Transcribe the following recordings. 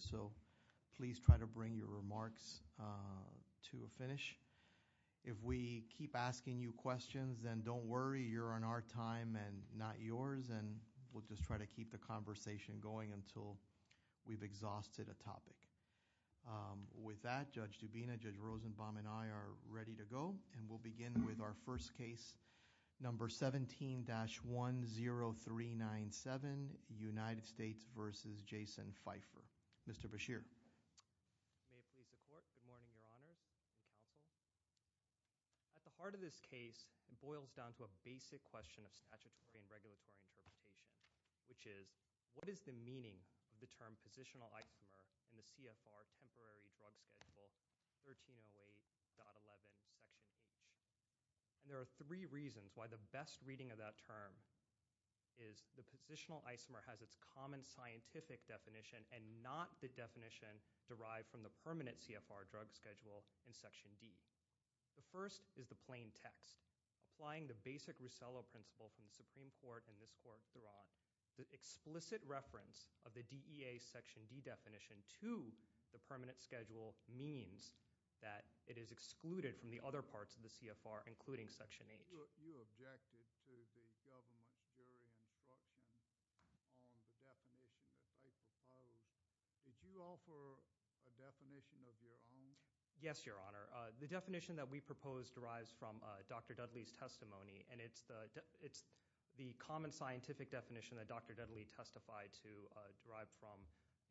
so please try to bring your remarks to a finish. If we keep asking you questions then don't worry you're on our time and not yours and we'll just try to keep the conversation going until we've exhausted a topic. With that Judge Dubina, Judge Rosenbaum and I are ready to go and we'll begin with our first case number 17-10397 United States v. Jason Pfeiffer. Mr. Bashir. Good morning your honors and counsel. At the heart of this case it boils down to a basic question of statutory and regulatory interpretation which is what is the meaning of the term positional isomer in the CFR temporary drug schedule 1308.11 section H. And there are three reasons why the best reading of that term is the positional isomer has its common scientific definition and not the definition derived from the permanent CFR drug schedule in section D. The first is the plain text. Applying the basic Russello principle from the Supreme Court and this court throughout, the explicit reference of the DEA section D definition to the permanent schedule means that it is excluded from the other parts of the CFR including section H. You objected to the government jury instruction on the definition that I proposed. Did you offer a definition of your own? Yes your honor. The definition that we proposed derives from Dr. Dudley's testimony and it's the common scientific definition that Dr. Dudley testified to derive from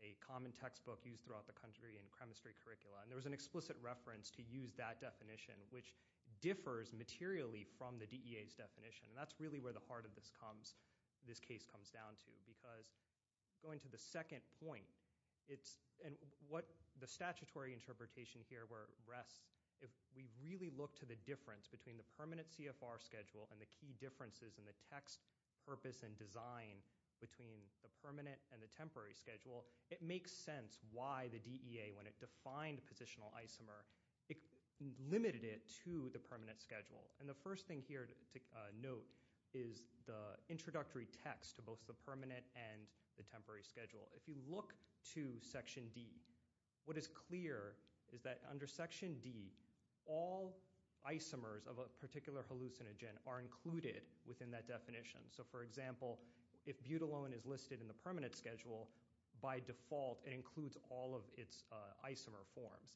a common textbook used throughout the country in chemistry curricula and there was an explicit reference to use that definition which differs materially from the DEA's definition and that's really where the heart of this case comes down to because going to the second point and what the statutory interpretation here where it rests, if we really look to the difference between the permanent CFR schedule and the key differences in the text purpose and design between the permanent and the temporary schedule, it makes sense why the DEA when it defined positional isomer, it limited it to the permanent schedule and the first thing here to note is the introductory text to both the permanent and the temporary schedule. If you look to section D, what is clear is that under section D, all isomers of a particular hallucinogen are included within that definition. So for example, if butylone is listed in the permanent schedule, by default it includes all of its isomer forms.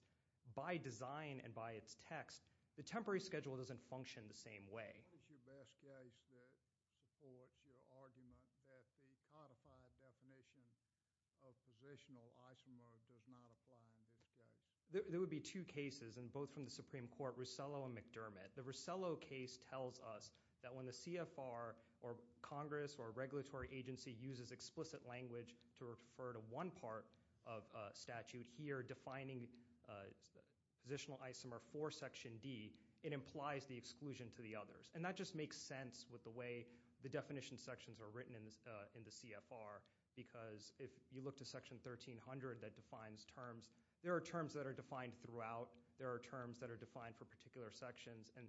By design and by its text, the temporary schedule doesn't function the same way. What is your best case that supports your argument that the codified definition of positional isomer does not apply in this case? There would be two cases and both from the Supreme Court, Rosello and McDermott. The Rosello case tells us that when the CFR or Congress or a regulatory agency uses explicit language to refer to one part of statute here defining positional isomer for section D, it implies the exclusion to the others. And that just makes sense with the way the definition sections are written in the CFR because if you look to section 1300 that defines terms, there are terms that are defined throughout, there are terms that are defined for particular sections and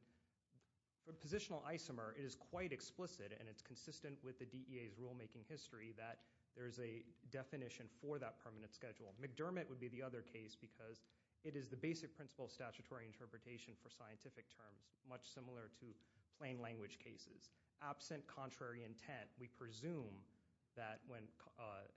positional isomer is quite explicit and it's consistent with the DEA's rulemaking history that there's a definition for that permanent schedule. McDermott would be the other case because it is the basic principle of statutory interpretation for scientific terms, much similar to plain language cases. Absent contrary intent, we presume that when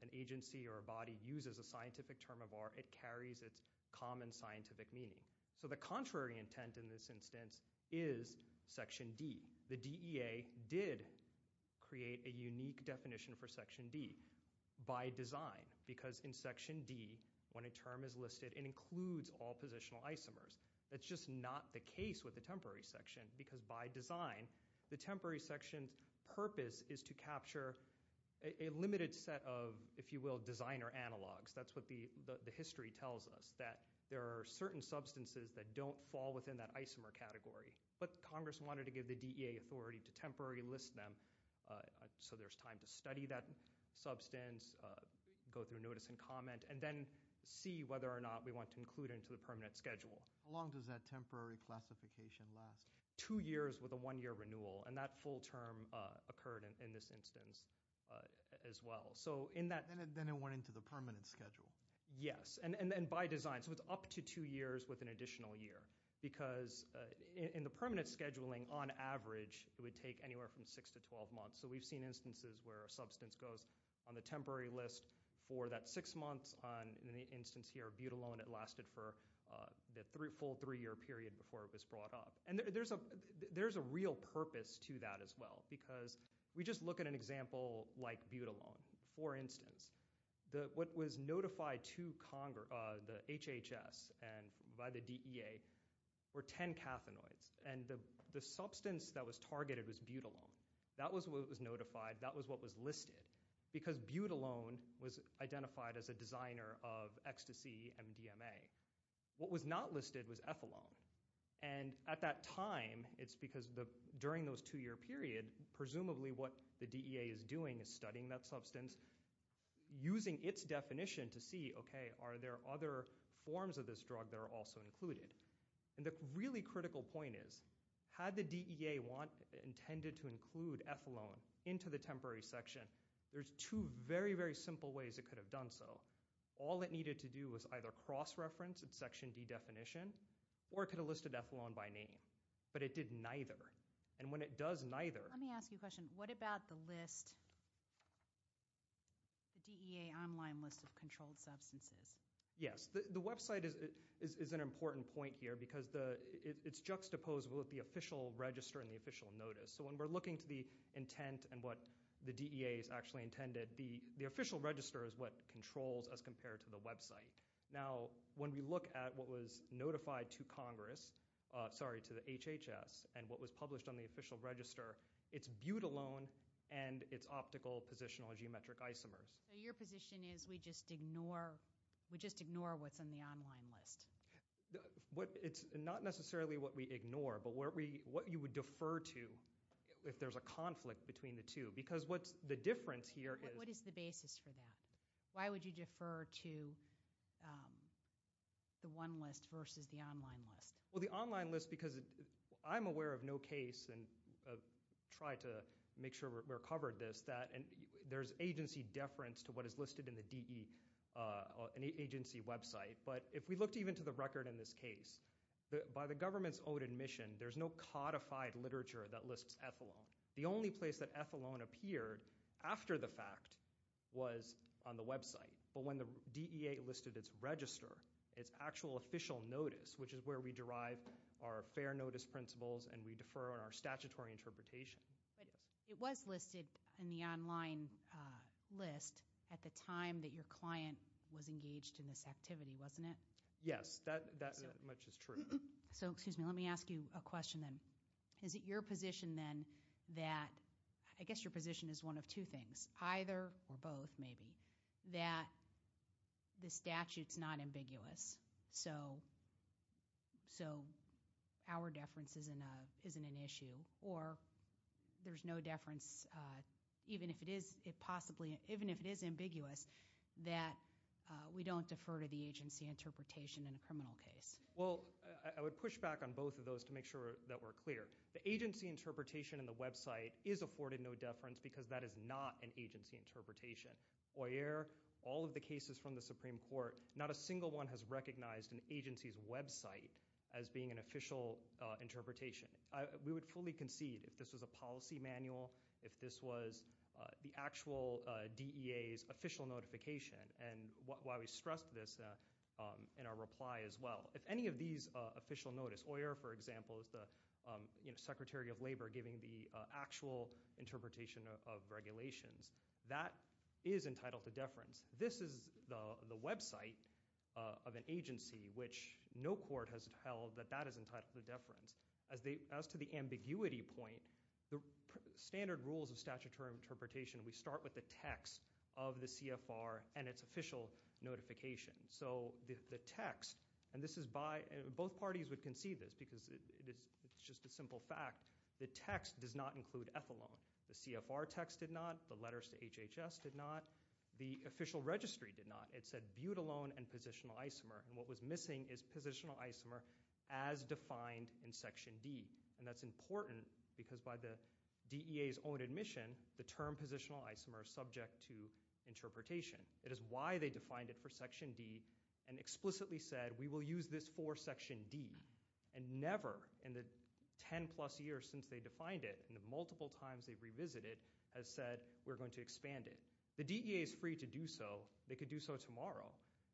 an agency or a body uses a scientific term of R, it carries its common scientific meaning. So the contrary intent in this instance is section D. The DEA did create a unique definition for section D by design because in section D, when a term is listed, it includes all positional isomers. That's just not the case with the temporary section because by design, the temporary section's purpose is to capture a limited set of, if you will, designer analogs. That's what the history tells us, that there are certain substances that don't fall within that isomer category. But Congress wanted to give the DEA authority to temporarily list them so there's time to study that substance, go through notice and comment, and then see whether or not we want to include it into the permanent schedule. How long does that temporary classification last? Two years with a one year renewal and that full term occurred in this instance as well. So in that- Then it went into the permanent schedule. Yes, and then by design. So it's up to two years with an additional year because in the permanent scheduling, on average, it would take anywhere from six to 12 months. So we've seen instances where a substance goes on the temporary list for that six months. In the instance here of Butylone, it lasted for the full three year period before it was brought up. And there's a real purpose to that as well because we just look at an example like Butylone. For instance, what was notified to the HHS and by the DEA were 10 cathenoids. And the substance that was targeted was Butylone. That was what was notified. That was what was listed because Butylone was identified as a designer of ecstasy MDMA. What was not listed was Ethylone. And at that time, it's because during those two year period, presumably what the DEA is doing is studying that substance. Using its definition to see, okay, are there other forms of this drug that are also included? And the really critical point is, had the DEA intended to include Ethylone into the temporary section, there's two very, very simple ways it could have done so. All it needed to do was either cross-reference its section D definition or it could have listed Ethylone by name. But it did neither. And when it does neither- Let me ask you a question. What about the list, the DEA online list of controlled substances? Yes. The website is an important point here because it's juxtaposed with the official register and the official notice. So when we're looking to the intent and what the DEA has actually intended, the official register is what controls as compared to the website. Now, when we look at what was notified to Congress, sorry, to the HHS, and what was published on the official register, it's Butylone and its optical positional geometric isomers. Your position is we just ignore what's on the online list? It's not necessarily what we ignore, but what you would defer to if there's a conflict between the two. Because what's the difference here is- What is the basis for that? Why would you defer to the one list versus the online list? Well, the online list because I'm aware of no case, and try to make sure we're covered this, that there's agency deference to what is listed in the DEA agency website. But if we looked even to the record in this case, by the government's own admission, there's no codified literature that lists Ethylone. The only place that Ethylone appeared after the fact was on the website. But when the DEA listed its register, its actual official notice, which is where we derive our fair notice principles, and we defer on our statutory interpretation. It was listed in the online list at the time that your client was engaged in this activity, wasn't it? Yes, that much is true. So, excuse me, let me ask you a question then. Is it your position then that- I guess your position is one of two things. Either or both, maybe. That the statute's not ambiguous, so our deference isn't an issue. Or there's no deference, even if it is possibly- even if it is ambiguous, that we don't defer to the agency interpretation in a criminal case. Well, I would push back on both of those to make sure that we're clear. The agency interpretation in the website is afforded no deference because that is not an agency interpretation. Boyer, all of the cases from the Supreme Court, not a single one has recognized an agency's website as being an official interpretation. We would fully concede if this was a policy manual, if this was the actual DEA's official notification, and why we stressed this in our reply as well. If any of these official notice, Boyer, for example, is the Secretary of Labor giving the actual interpretation of regulations, that is entitled to deference. This is the website of an agency which no court has held that that is entitled to deference. As to the ambiguity point, the standard rules of statutory interpretation, we start with the text of the CFR and its official notification. So the text, and both parties would concede this because it's just a simple fact, the text does not include ethylone. The CFR text did not, the letters to HHS did not, the official registry did not. It said butylone and positional isomer, and what was missing is positional isomer as defined in Section D. And that's important because by the DEA's own admission, the term positional isomer is subject to interpretation. It is why they defined it for Section D and explicitly said we will use this for Section D. And never in the 10 plus years since they defined it, and the multiple times they've revisited, has said we're going to expand it. The DEA is free to do so. They could do so tomorrow.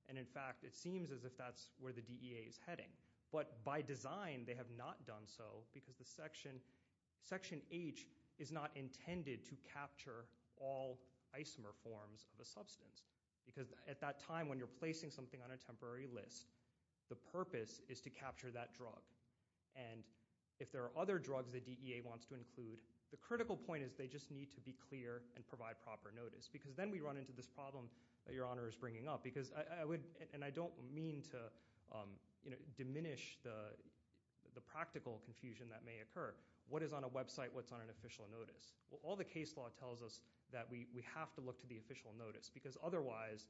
And in fact, it seems as if that's where the DEA is heading. But by design, they have not done so because the Section H is not intended to capture all isomer forms of a substance. Because at that time when you're placing something on a temporary list, the purpose is to capture that drug. And if there are other drugs the DEA wants to include, the critical point is they just need to be clear and provide proper notice. Because then we run into this problem that Your Honor is bringing up. And I don't mean to diminish the practical confusion that may occur. What is on a website? What's on an official notice? All the case law tells us that we have to look to the official notice. Because otherwise,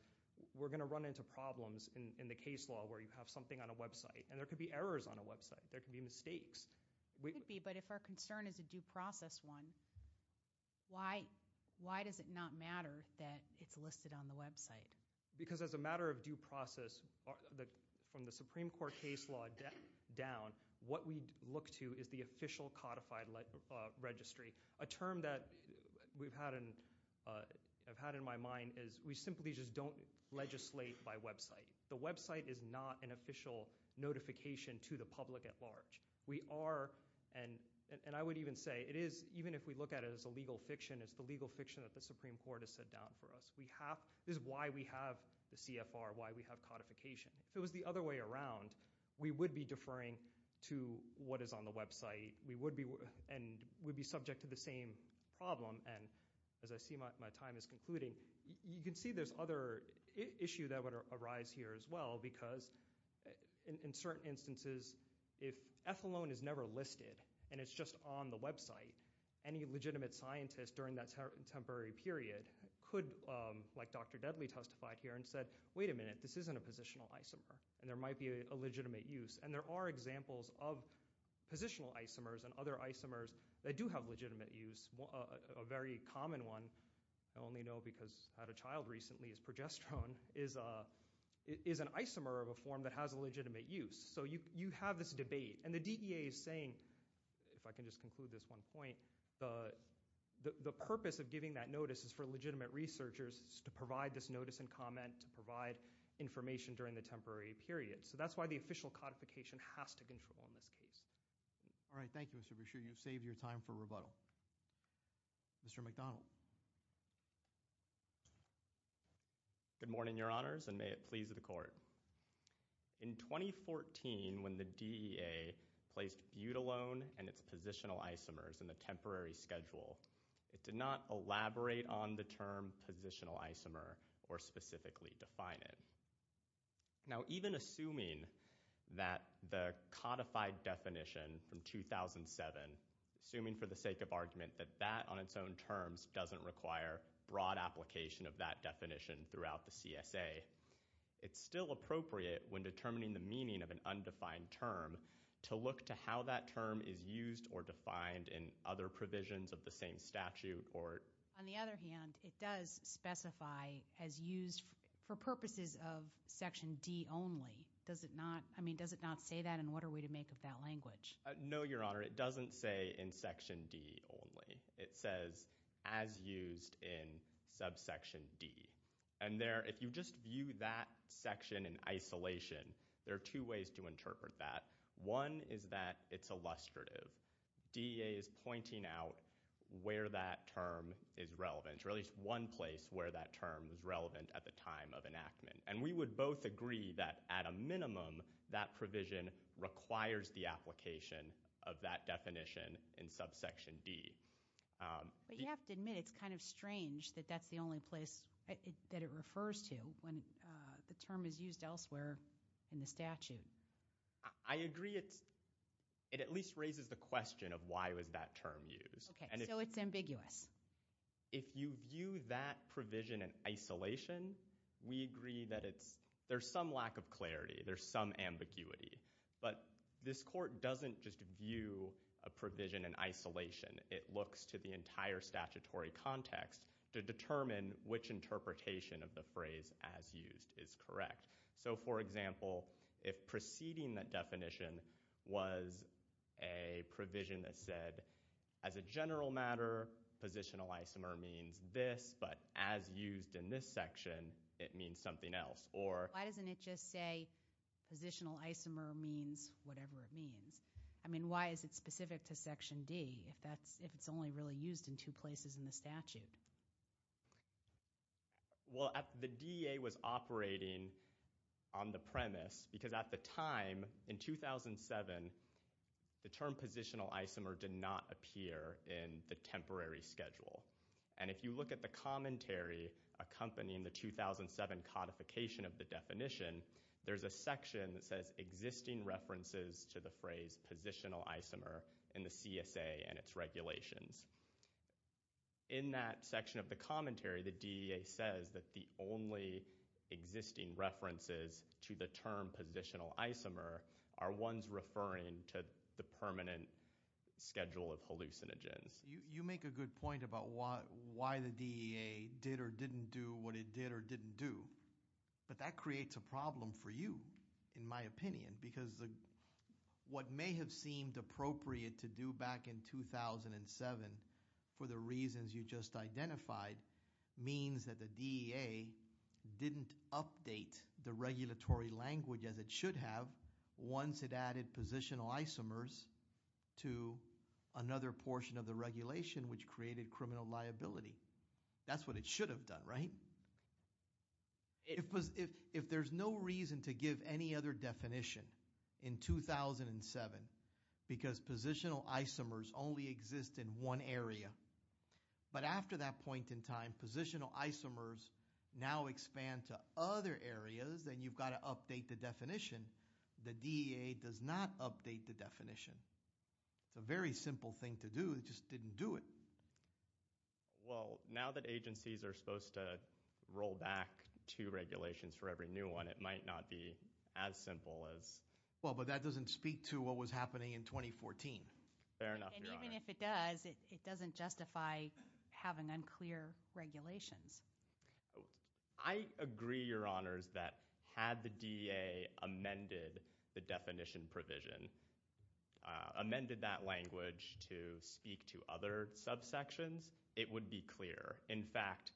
we're going to run into problems in the case law where you have something on a website. And there could be errors on a website. There could be mistakes. It could be. But if our concern is a due process one, why does it not matter that it's listed on the website? Because as a matter of due process, from the Supreme Court case law down, what we look to is the official codified registry. A term that we've had in my mind is we simply just don't legislate by website. The website is not an official notification to the public at large. We are, and I would even say it is, even if we look at it as a legal fiction, it's the legal fiction that the Supreme Court has set down for us. This is why we have the CFR, why we have codification. If it was the other way around, we would be deferring to what is on the website. We would be subject to the same problem. And as I see my time is concluding, you can see there's other issue that would arise here as well. Because in certain instances, if ethylene is never listed and it's just on the website, any legitimate scientist during that temporary period could, like Dr. Deadly testified here and said, wait a minute, this isn't a positional isomer. And there might be a legitimate use. And there are examples of positional isomers and other isomers that do have legitimate use. A very common one, I only know because I had a child recently, is progesterone is an isomer of a form that has a legitimate use. So you have this debate. And the DEA is saying, if I can just conclude this one point, the purpose of giving that notice is for legitimate researchers to provide this notice and comment, to provide information during the temporary period. So that's why the official codification has to control in this case. All right. Thank you, Mr. Brashear. You've saved your time for rebuttal. Mr. McDonald. Good morning, your honors, and may it please the court. In 2014, when the DEA placed butylone and its positional isomers in the temporary schedule, it did not elaborate on the term positional isomer or specifically define it. Now, even assuming that the codified definition from 2007, assuming for the sake of argument that that on its own terms doesn't require broad application of that definition throughout the CSA, it's still appropriate when determining the meaning of an undefined term to look to how that term is used or defined in other provisions of the same statute or... On the other hand, it does specify as used for purposes of section D only. Does it not? I mean, does it not say that? And what are we to make of that language? No, your honor, it doesn't say in section D only. It says as used in subsection D. And there, if you just view that section in isolation, there are two ways to interpret that. One is that it's illustrative. DEA is pointing out where that term is relevant, or at least one place where that term is relevant at the time of enactment. And we would both agree that at a minimum, that provision requires the application of that definition in subsection D. But you have to admit it's kind of strange that that's the only place... That it refers to when the term is used elsewhere in the statute. I agree it's... It at least raises the question of why was that term used? Okay, so it's ambiguous. If you view that provision in isolation, we agree that it's... There's some lack of clarity. There's some ambiguity. But this court doesn't just view a provision in isolation. It looks to the entire statutory context to determine which interpretation of the phrase as used is correct. So for example, if preceding that definition was a provision that said, as a general matter, positional isomer means this, but as used in this section, it means something else. Or... Why doesn't it just say positional isomer means whatever it means? I mean, why is it specific to section D? If it's only really used in two places in the statute? Well, the DEA was operating on the premise because at the time, in 2007, the term positional isomer did not appear in the temporary schedule. And if you look at the commentary accompanying the 2007 codification of the definition, there's a section that says existing references to the phrase positional isomer in the CSA and its regulations. In that section of the commentary, the DEA says that the only existing references to the term positional isomer are ones referring to the permanent schedule of hallucinogens. You make a good point about why the DEA did or didn't do what it did or didn't do. But that creates a problem for you, in my opinion, because what may have seemed appropriate to do back in 2007 for the reasons you just identified means that the DEA didn't update the regulatory language as it should have once it added positional isomers to another portion of the regulation which created criminal liability. That's what it should have done, right? If there's no reason to give any other definition in 2007 because positional isomers only exist in one area, but after that point in time, positional isomers now expand to other areas and you've got to update the definition, the DEA does not update the definition. It's a very simple thing to do. It just didn't do it. Well, now that agencies are supposed to roll back two regulations for every new one, it might not be as simple as... Well, but that doesn't speak to what was happening in 2014. Fair enough, Your Honor. And even if it does, it doesn't justify having unclear regulations. I agree, Your Honors, that had the DEA amended the definition provision, amended that language to speak to other subsets, it would be clear. In fact,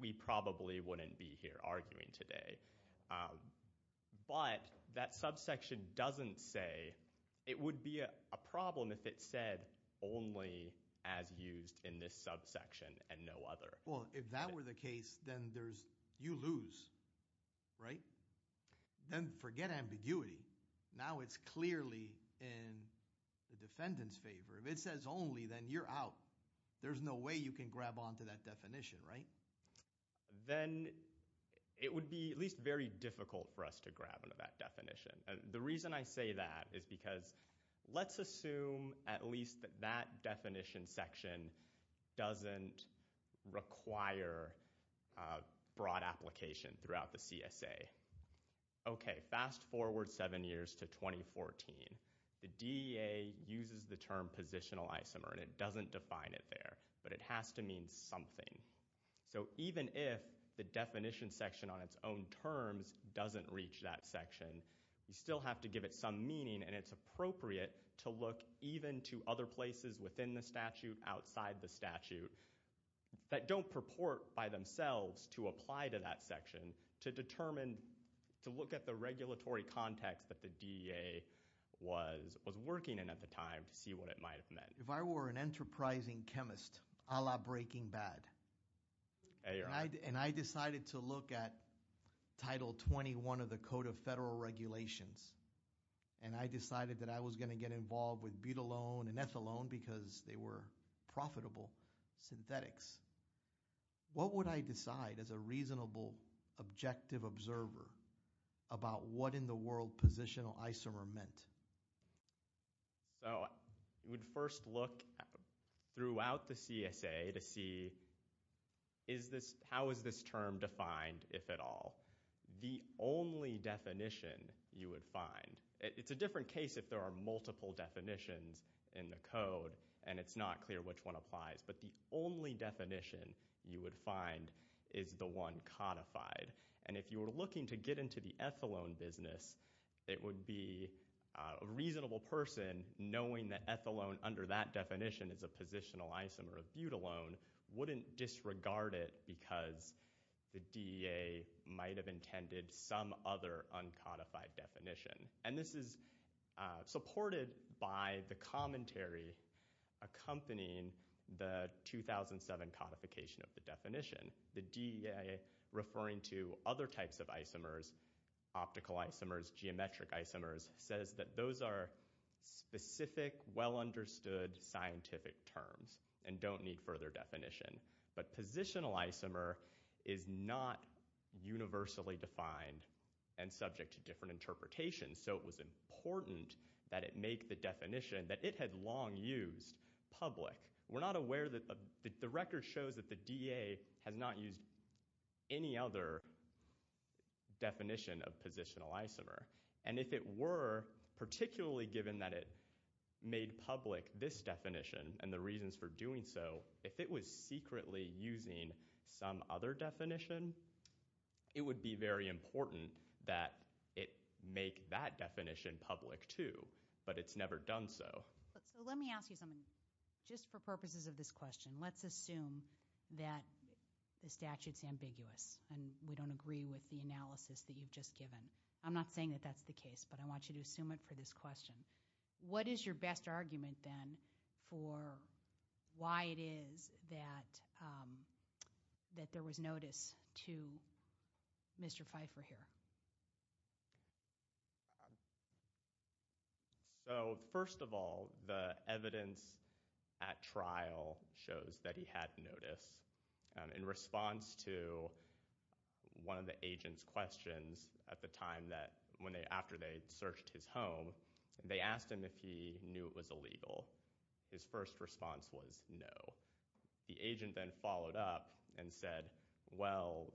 we probably wouldn't be here arguing today. But that subsection doesn't say it would be a problem if it said only as used in this subsection and no other. Well, if that were the case, then you lose, right? Then forget ambiguity. Now it's clearly in the defendant's favor. If it says only, then you're out. There's no way you can grab onto that definition, right? Then it would be at least very difficult for us to grab onto that definition. The reason I say that is because let's assume at least that that definition section doesn't require broad application throughout the CSA. Okay, fast forward seven years to 2014. The DEA uses the term positional isomer, and it doesn't define it there, but it has to mean something. So even if the definition section on its own terms doesn't reach that section, you still have to give it some meaning, and it's appropriate to look even to other places within the statute, outside the statute, that don't purport by themselves to apply to that section to determine, to look at the regulatory context that the DEA was working in at the time to see what it might have meant. If I were an enterprising chemist a la Breaking Bad, and I decided to look at Title 21 of the Code of Federal Regulations, and I decided that I was going to get involved with butylone and ethylone because they were profitable synthetics, what would I decide as a reasonable, objective observer about what in the world positional isomer meant? So you would first look throughout the CSA to see is this, how is this term defined, if at all? The only definition you would find, it's a different case if there are multiple definitions in the code, and it's not clear which one applies, but the only definition you would find is the one codified. And if you were looking to get into the ethylone business, it would be a reasonable person knowing that ethylone, under that definition, is a positional isomer of butylone, wouldn't disregard it because the DEA might have intended some other uncodified definition. And this is supported by the commentary accompanying the 2007 codification of the definition. The DEA referring to other types of isomers, optical isomers, geometric isomers, says that those are specific, well-understood scientific terms and don't need further definition. But positional isomer is not universally defined and subject to different interpretations, so it was important that it make the definition that it had long used public. We're not aware that the record shows that the DEA has not used any other definition of positional isomer. And if it were, particularly given that it made public this definition and the reasons for doing so, if it was secretly using some other definition, it would be very important that it make that definition public too, but it's never done so. So let me ask you something. Just for purposes of this question, let's assume that the statute's ambiguous and we don't agree with the analysis that you've just given. I'm not saying that that's the case, but I want you to assume it for this question. What is your best argument then for why it is that there was notice to Mr. Pfeiffer here? So first of all, the evidence at trial shows that he had notice. In response to one of the agent's questions at the time after they searched his home, they asked him if he knew it was illegal. His first response was no. The agent then followed up and said, well,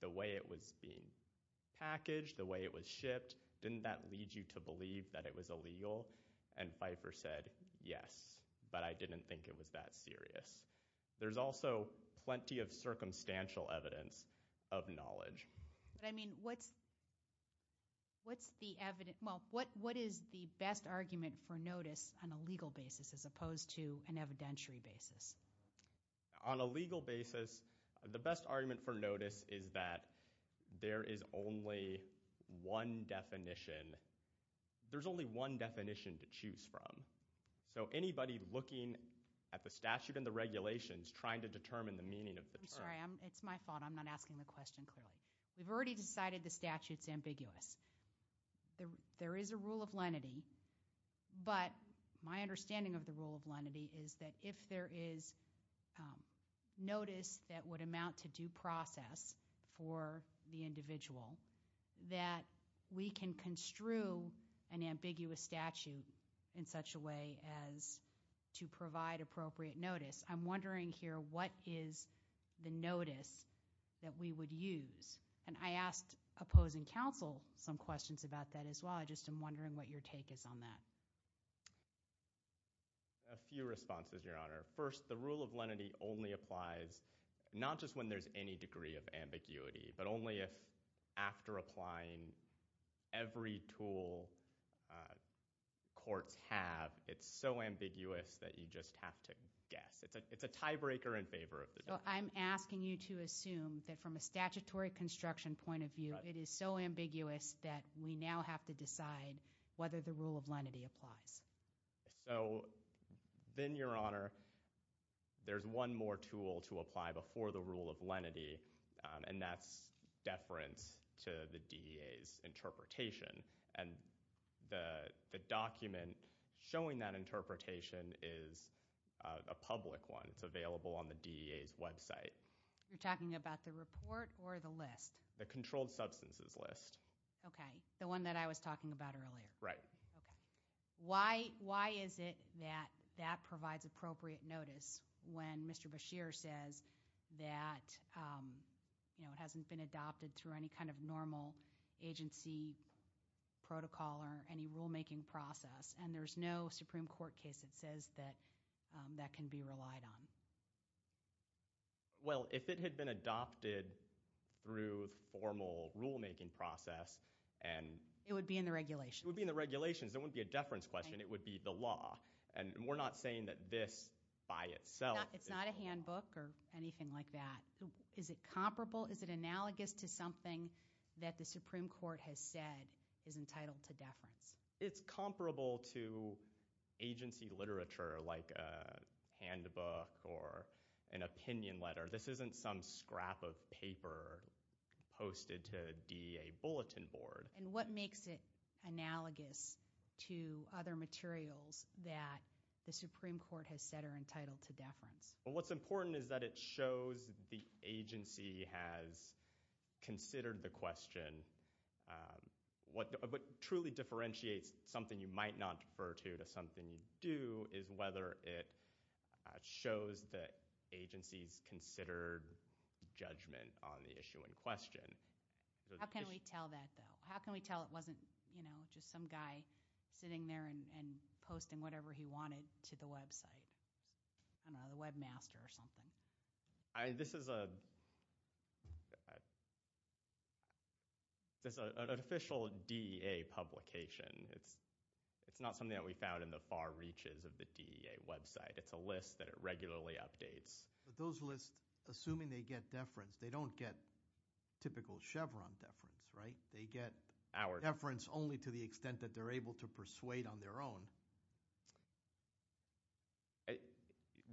the way it was being packaged, the way it was shipped, didn't that lead you to believe that it was illegal? And Pfeiffer said, yes, but I didn't think it was that serious. There's also plenty of circumstantial evidence of knowledge. But I mean, what's the evidence? Well, what is the best argument for notice on a legal basis as opposed to an evidentiary basis? On a legal basis, the best argument for notice is that there is only one definition. There's only one definition to choose from. So anybody looking at the statute and the regulations trying to determine the meaning of the term. I'm sorry, it's my fault. I'm not asking the question clearly. We've already decided the statute's ambiguous. There is a rule of lenity, but my understanding of the rule of lenity is that if there is notice that would amount to due process, for the individual, that we can construe an ambiguous statute in such a way as to provide appropriate notice. I'm wondering here, what is the notice that we would use? And I asked opposing counsel some questions about that as well. I just am wondering what your take is on that. A few responses, Your Honor. First, the rule of lenity only applies not just when there's any degree of ambiguity, but only if after applying every tool courts have, it's so ambiguous that you just have to guess. It's a tiebreaker in favor of the judge. I'm asking you to assume that from a statutory construction point of view, it is so ambiguous that we now have to decide whether the rule of lenity applies. So then, Your Honor, there's one more tool to apply before the rule of lenity, and that's deference to the DEA's interpretation. And the document showing that interpretation is a public one. It's available on the DEA's website. You're talking about the report or the list? The controlled substances list. Okay. The one that I was talking about earlier. Right. Okay. Why is it that that provides appropriate notice when Mr. Beshear says that, you know, it hasn't been adopted through any kind of normal agency protocol or any rulemaking process, and there's no Supreme Court case that says that that can be relied on? Well, if it had been adopted through formal rulemaking process and... It would be in the regulations. It would be in the regulations. It wouldn't be a deference question. It would be the law. And we're not saying that this by itself... It's not a handbook or anything like that. Is it comparable? Is it analogous to something that the Supreme Court has said is entitled to deference? It's comparable to agency literature like a handbook or an opinion letter. This isn't some scrap of paper posted to DEA bulletin board. And what makes it analogous to other materials that the Supreme Court has said are entitled to deference? Well, what's important is that it shows the agency has considered the question. What truly differentiates something you might not refer to to something you do is whether it shows that agency's considered judgment on the issue in question. How can we tell that, though? How can we tell it wasn't just some guy sitting there and posting whatever he wanted to the website? I don't know, the webmaster or something. This is an official DEA publication. It's not something that we found in the far reaches of the DEA website. It's a list that it regularly updates. But those lists, assuming they get deference, they don't get typical Chevron deference, right? They get deference only to the extent that they're able to persuade on their own.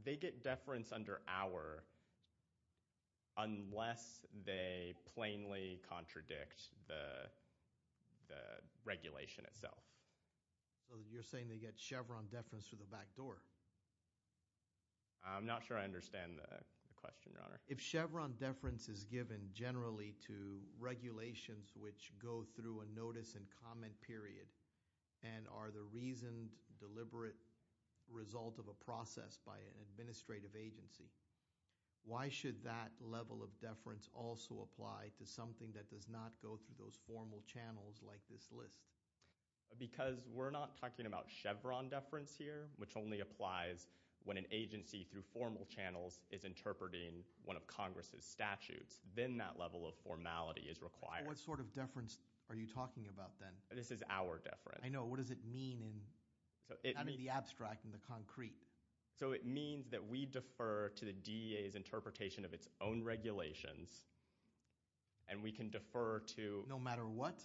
They get deference under our, unless they plainly contradict the regulation itself. So you're saying they get Chevron deference through the back door? I'm not sure I understand the question, Your Honor. If Chevron deference is given generally to regulations which go through a notice and comment period and are the reasoned deliberate result of a process by an administrative agency, why should that level of deference also apply to something that does not go through those formal channels like this list? Because we're not talking about Chevron deference here, which only applies when an agency through formal channels is interpreting one of Congress's statutes. Then that level of formality is required. What sort of deference are you talking about then? This is our deference. I know. What does it mean in the abstract, in the concrete? So it means that we defer to the DEA's interpretation of its own regulations and we can defer to- No matter what?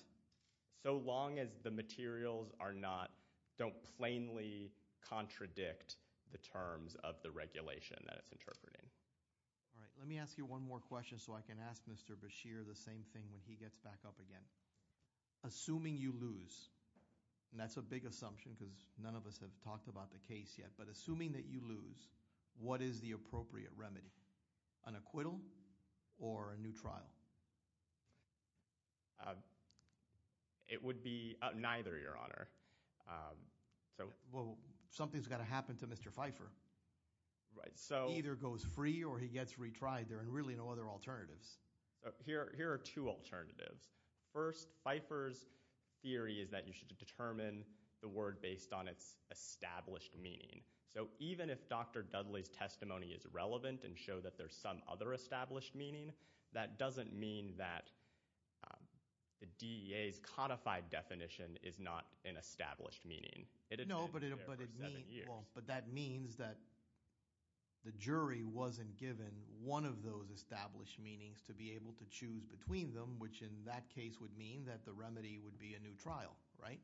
So long as the materials are not, don't plainly contradict the terms of the regulation that it's interpreting. All right. Let me ask you one more question so I can ask Mr. Bashir the same thing when he gets back up again. Assuming you lose, and that's a big assumption because none of us have talked about the case yet, but assuming that you lose, what is the appropriate remedy? An acquittal or a new trial? It would be neither, Your Honor. Well, something's got to happen to Mr. Pfeiffer. Right, so- He either goes free or he gets retried. There are really no other alternatives. Here are two alternatives. First, Pfeiffer's theory is that you should determine the word based on its established meaning. So even if Dr. Dudley's testimony is relevant and show that there's some other established meaning, that doesn't mean that the DEA's codified definition is not an established meaning. It had been there for seven years. But that means that the jury wasn't given one of those established meanings to be able to choose between them, which in that case would mean that the remedy would be a new trial, right?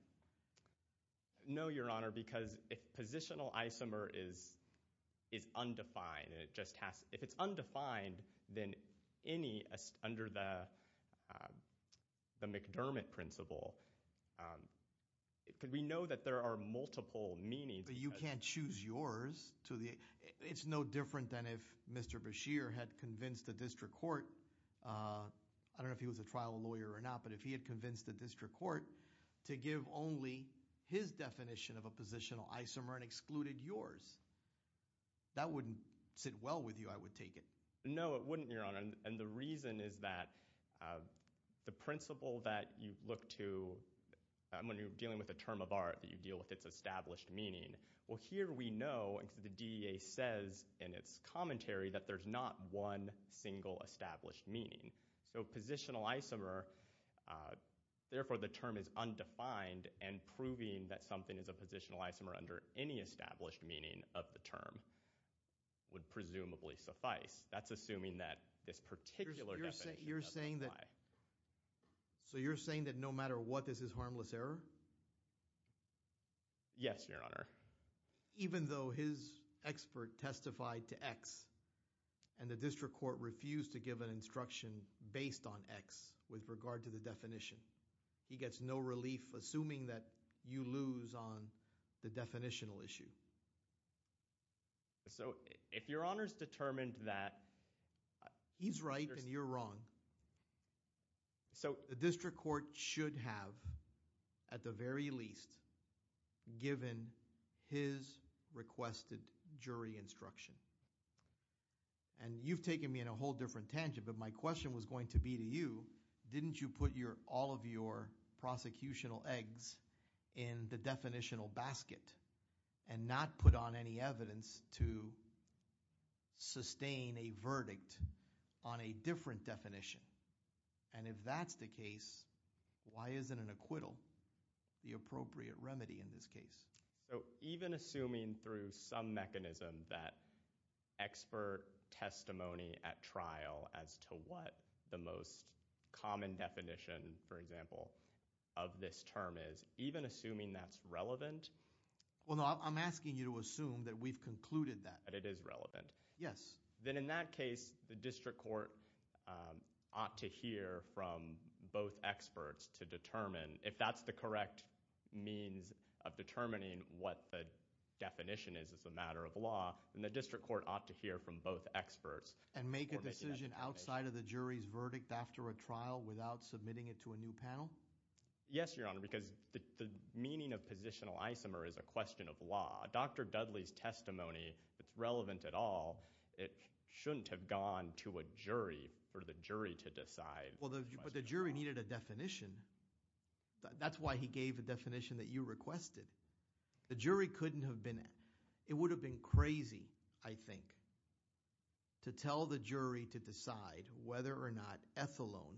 No, Your Honor, because if positional isomer is undefined, and it just has- If it's undefined, then any under the McDermott principle, we know that there are multiple meanings. But you can't choose yours to the- It's no different than if Mr. Bashir had convinced the district court- I don't know if he was a trial lawyer or not, but if he had convinced the district court to give only his definition of a positional isomer and excluded yours, that wouldn't sit well with you, I would take it. No, it wouldn't, Your Honor. And the reason is that the principle that you look to when you're dealing with a term of art that you deal with its established meaning. Well, here we know, because the DEA says in its commentary that there's not one single established meaning. So positional isomer, therefore the term is undefined and proving that something is a positional isomer under any established meaning of the term would presumably suffice. That's assuming that this particular definition- You're saying that no matter what, this is harmless error? Yes, Your Honor. Even though his expert testified to X and the district court refused to give an instruction based on X with regard to the definition, he gets no relief assuming that you lose on the definitional issue. So if Your Honor's determined that- He's right and you're wrong. So the district court should have, at the very least, given his requested jury instruction. And you've taken me in a whole different tangent, but my question was going to be to you. Didn't you put all of your prosecutional eggs in the definitional basket and not put on any evidence to sustain a verdict on a different definition? And if that's the case, why isn't an acquittal the appropriate remedy in this case? So even assuming through some mechanism that expert testimony at trial as to what the most common definition, for example, of this term is, even assuming that's relevant- Well, no, I'm asking you to assume that we've concluded that. That it is relevant. Yes. Then in that case, the district court ought to hear from both experts to determine if that's the correct means of determining what the definition is as a matter of law. And the district court ought to hear from both experts. And make a decision outside of the jury's verdict after a trial without submitting it to a new panel? Yes, Your Honor, because the meaning of positional isomer is a question of law. Dr. Dudley's testimony, if it's relevant at all, it shouldn't have gone to a jury or the jury to decide. Well, but the jury needed a definition. That's why he gave a definition that you requested. The jury couldn't have been... It would have been crazy, I think, to tell the jury to decide whether or not ethylone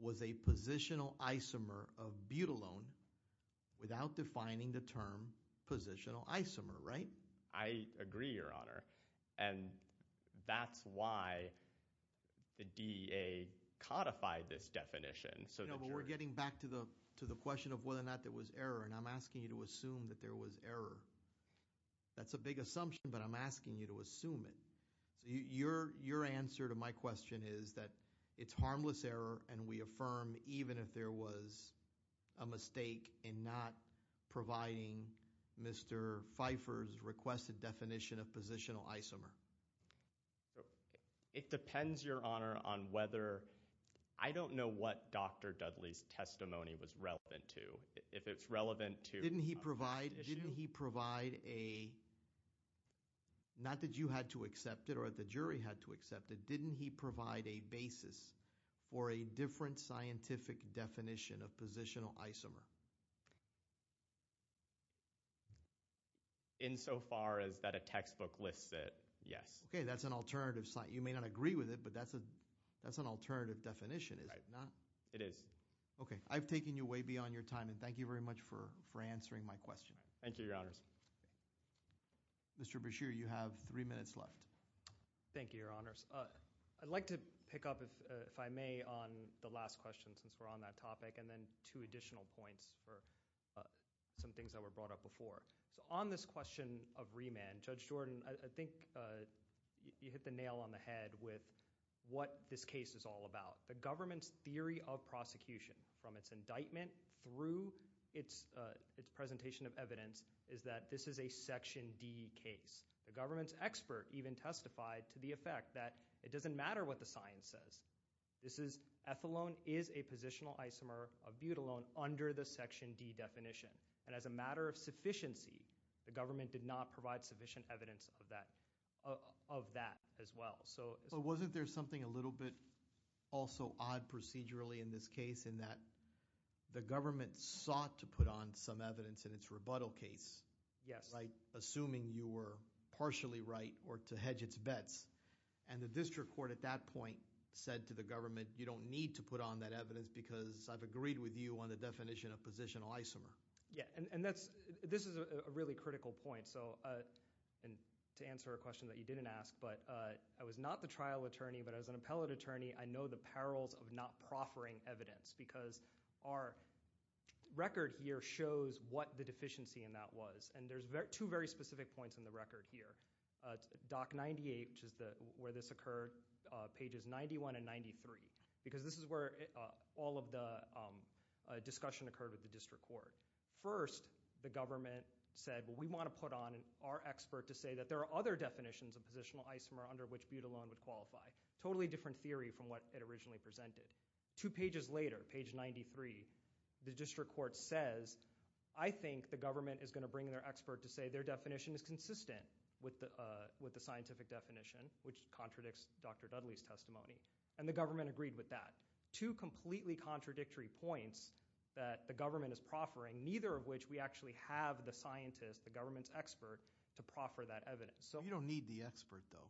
was a positional isomer of butylone without defining the term positional isomer, right? I agree, Your Honor. And that's why the DA codified this definition. You know, but we're getting back to the question of whether or not there was error. And I'm asking you to assume that there was error. That's a big assumption, but I'm asking you to assume it. Your answer to my question is that it's harmless error and we affirm even if there was a mistake in not providing Mr. Pfeiffer's requested definition of positional isomer. It depends, Your Honor, on whether... I don't know what Dr. Dudley's testimony was relevant to. If it's relevant to... Didn't he provide... Didn't he provide a... Not that you had to accept it or the jury had to accept it. Didn't he provide a basis for a different scientific definition of positional isomer? Insofar as that a textbook lists it, yes. Okay, that's an alternative... You may not agree with it, but that's an alternative definition, is it not? It is. Okay, I've taken you way beyond your time. And thank you very much for answering my question. Thank you, Your Honors. Mr. Brashear, you have three minutes left. Thank you, Your Honors. I'd like to pick up, if I may, on the last question since we're on that topic and then two additional points. For some things that were brought up before. So on this question of remand, Judge Jordan, I think you hit the nail on the head with what this case is all about. The government's theory of prosecution from its indictment through its presentation of evidence is that this is a Section D case. The government's expert even testified to the effect that it doesn't matter what the science says. This is... Ethylone is a positional isomer of butylone under the Section D definition. And as a matter of sufficiency, the government did not provide sufficient evidence of that as well. So wasn't there something a little bit also odd procedurally in this case in that the government sought to put on some evidence in its rebuttal case? Yes. Like assuming you were partially right or to hedge its bets. And the district court at that point said to the government, you don't need to put on that evidence because I've agreed with you on the definition of positional isomer. Yeah, and this is a really critical point. And to answer a question that you didn't ask, but I was not the trial attorney, but as an appellate attorney, I know the perils of not proffering evidence because our record here shows what the deficiency in that was. And there's two very specific points in the record here. Doc 98, which is where this occurred, pages 91 and 93. Because this is where all of the discussion occurred with the district court. First, the government said, well, we want to put on our expert to say that there are other definitions of positional isomer under which Butylone would qualify. Totally different theory from what it originally presented. Two pages later, page 93, the district court says, I think the government is going to bring their expert to say their definition is consistent with the scientific definition, which contradicts Dr. Dudley's testimony. And the government agreed with that. Two completely contradictory points that the government is proffering, neither of which we actually have the scientist, the government's expert, to proffer that evidence. So you don't need the expert though.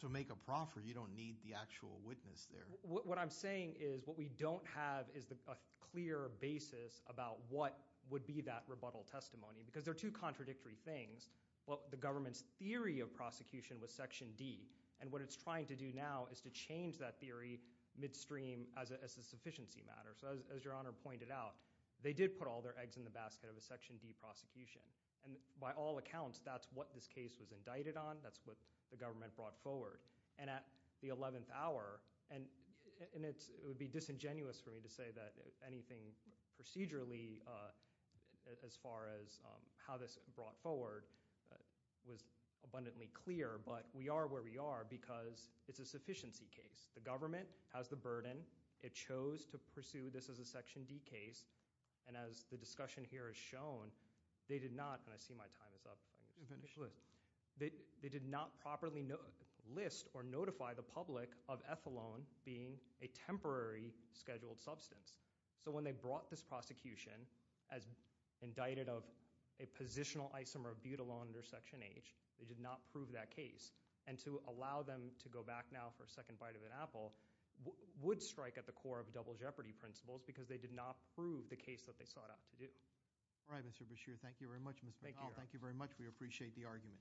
To make a proffer, you don't need the actual witness there. What I'm saying is what we don't have is a clear basis about what would be that rebuttal testimony, because there are two contradictory things. Well, the government's theory of prosecution was section D. And what it's trying to do now is to change that theory midstream as a sufficiency matter. So as your honor pointed out, they did put all their eggs in the basket of a section D prosecution. And by all accounts, that's what this case was indicted on. That's what the government brought forward. And at the 11th hour, and it would be disingenuous for me to say that anything procedurally as far as how this brought forward was abundantly clear, but we are where we are because it's a sufficiency case. The government has the burden. It chose to pursue this as a section D case. And as the discussion here has shown, they did not, and I see my time is up. I need to finish. They did not properly list or notify the public of ethylone being a temporary scheduled substance. So when they brought this prosecution as indicted of a positional isomer of butylone under section H, they did not prove that case. And to allow them to go back now for a second bite of an apple would strike at the core of double jeopardy principles because they did not prove the case that they sought out to do. All right, Mr. Beshear. Thank you very much, Mr. ethylone. Thank you very much. We appreciate the argument.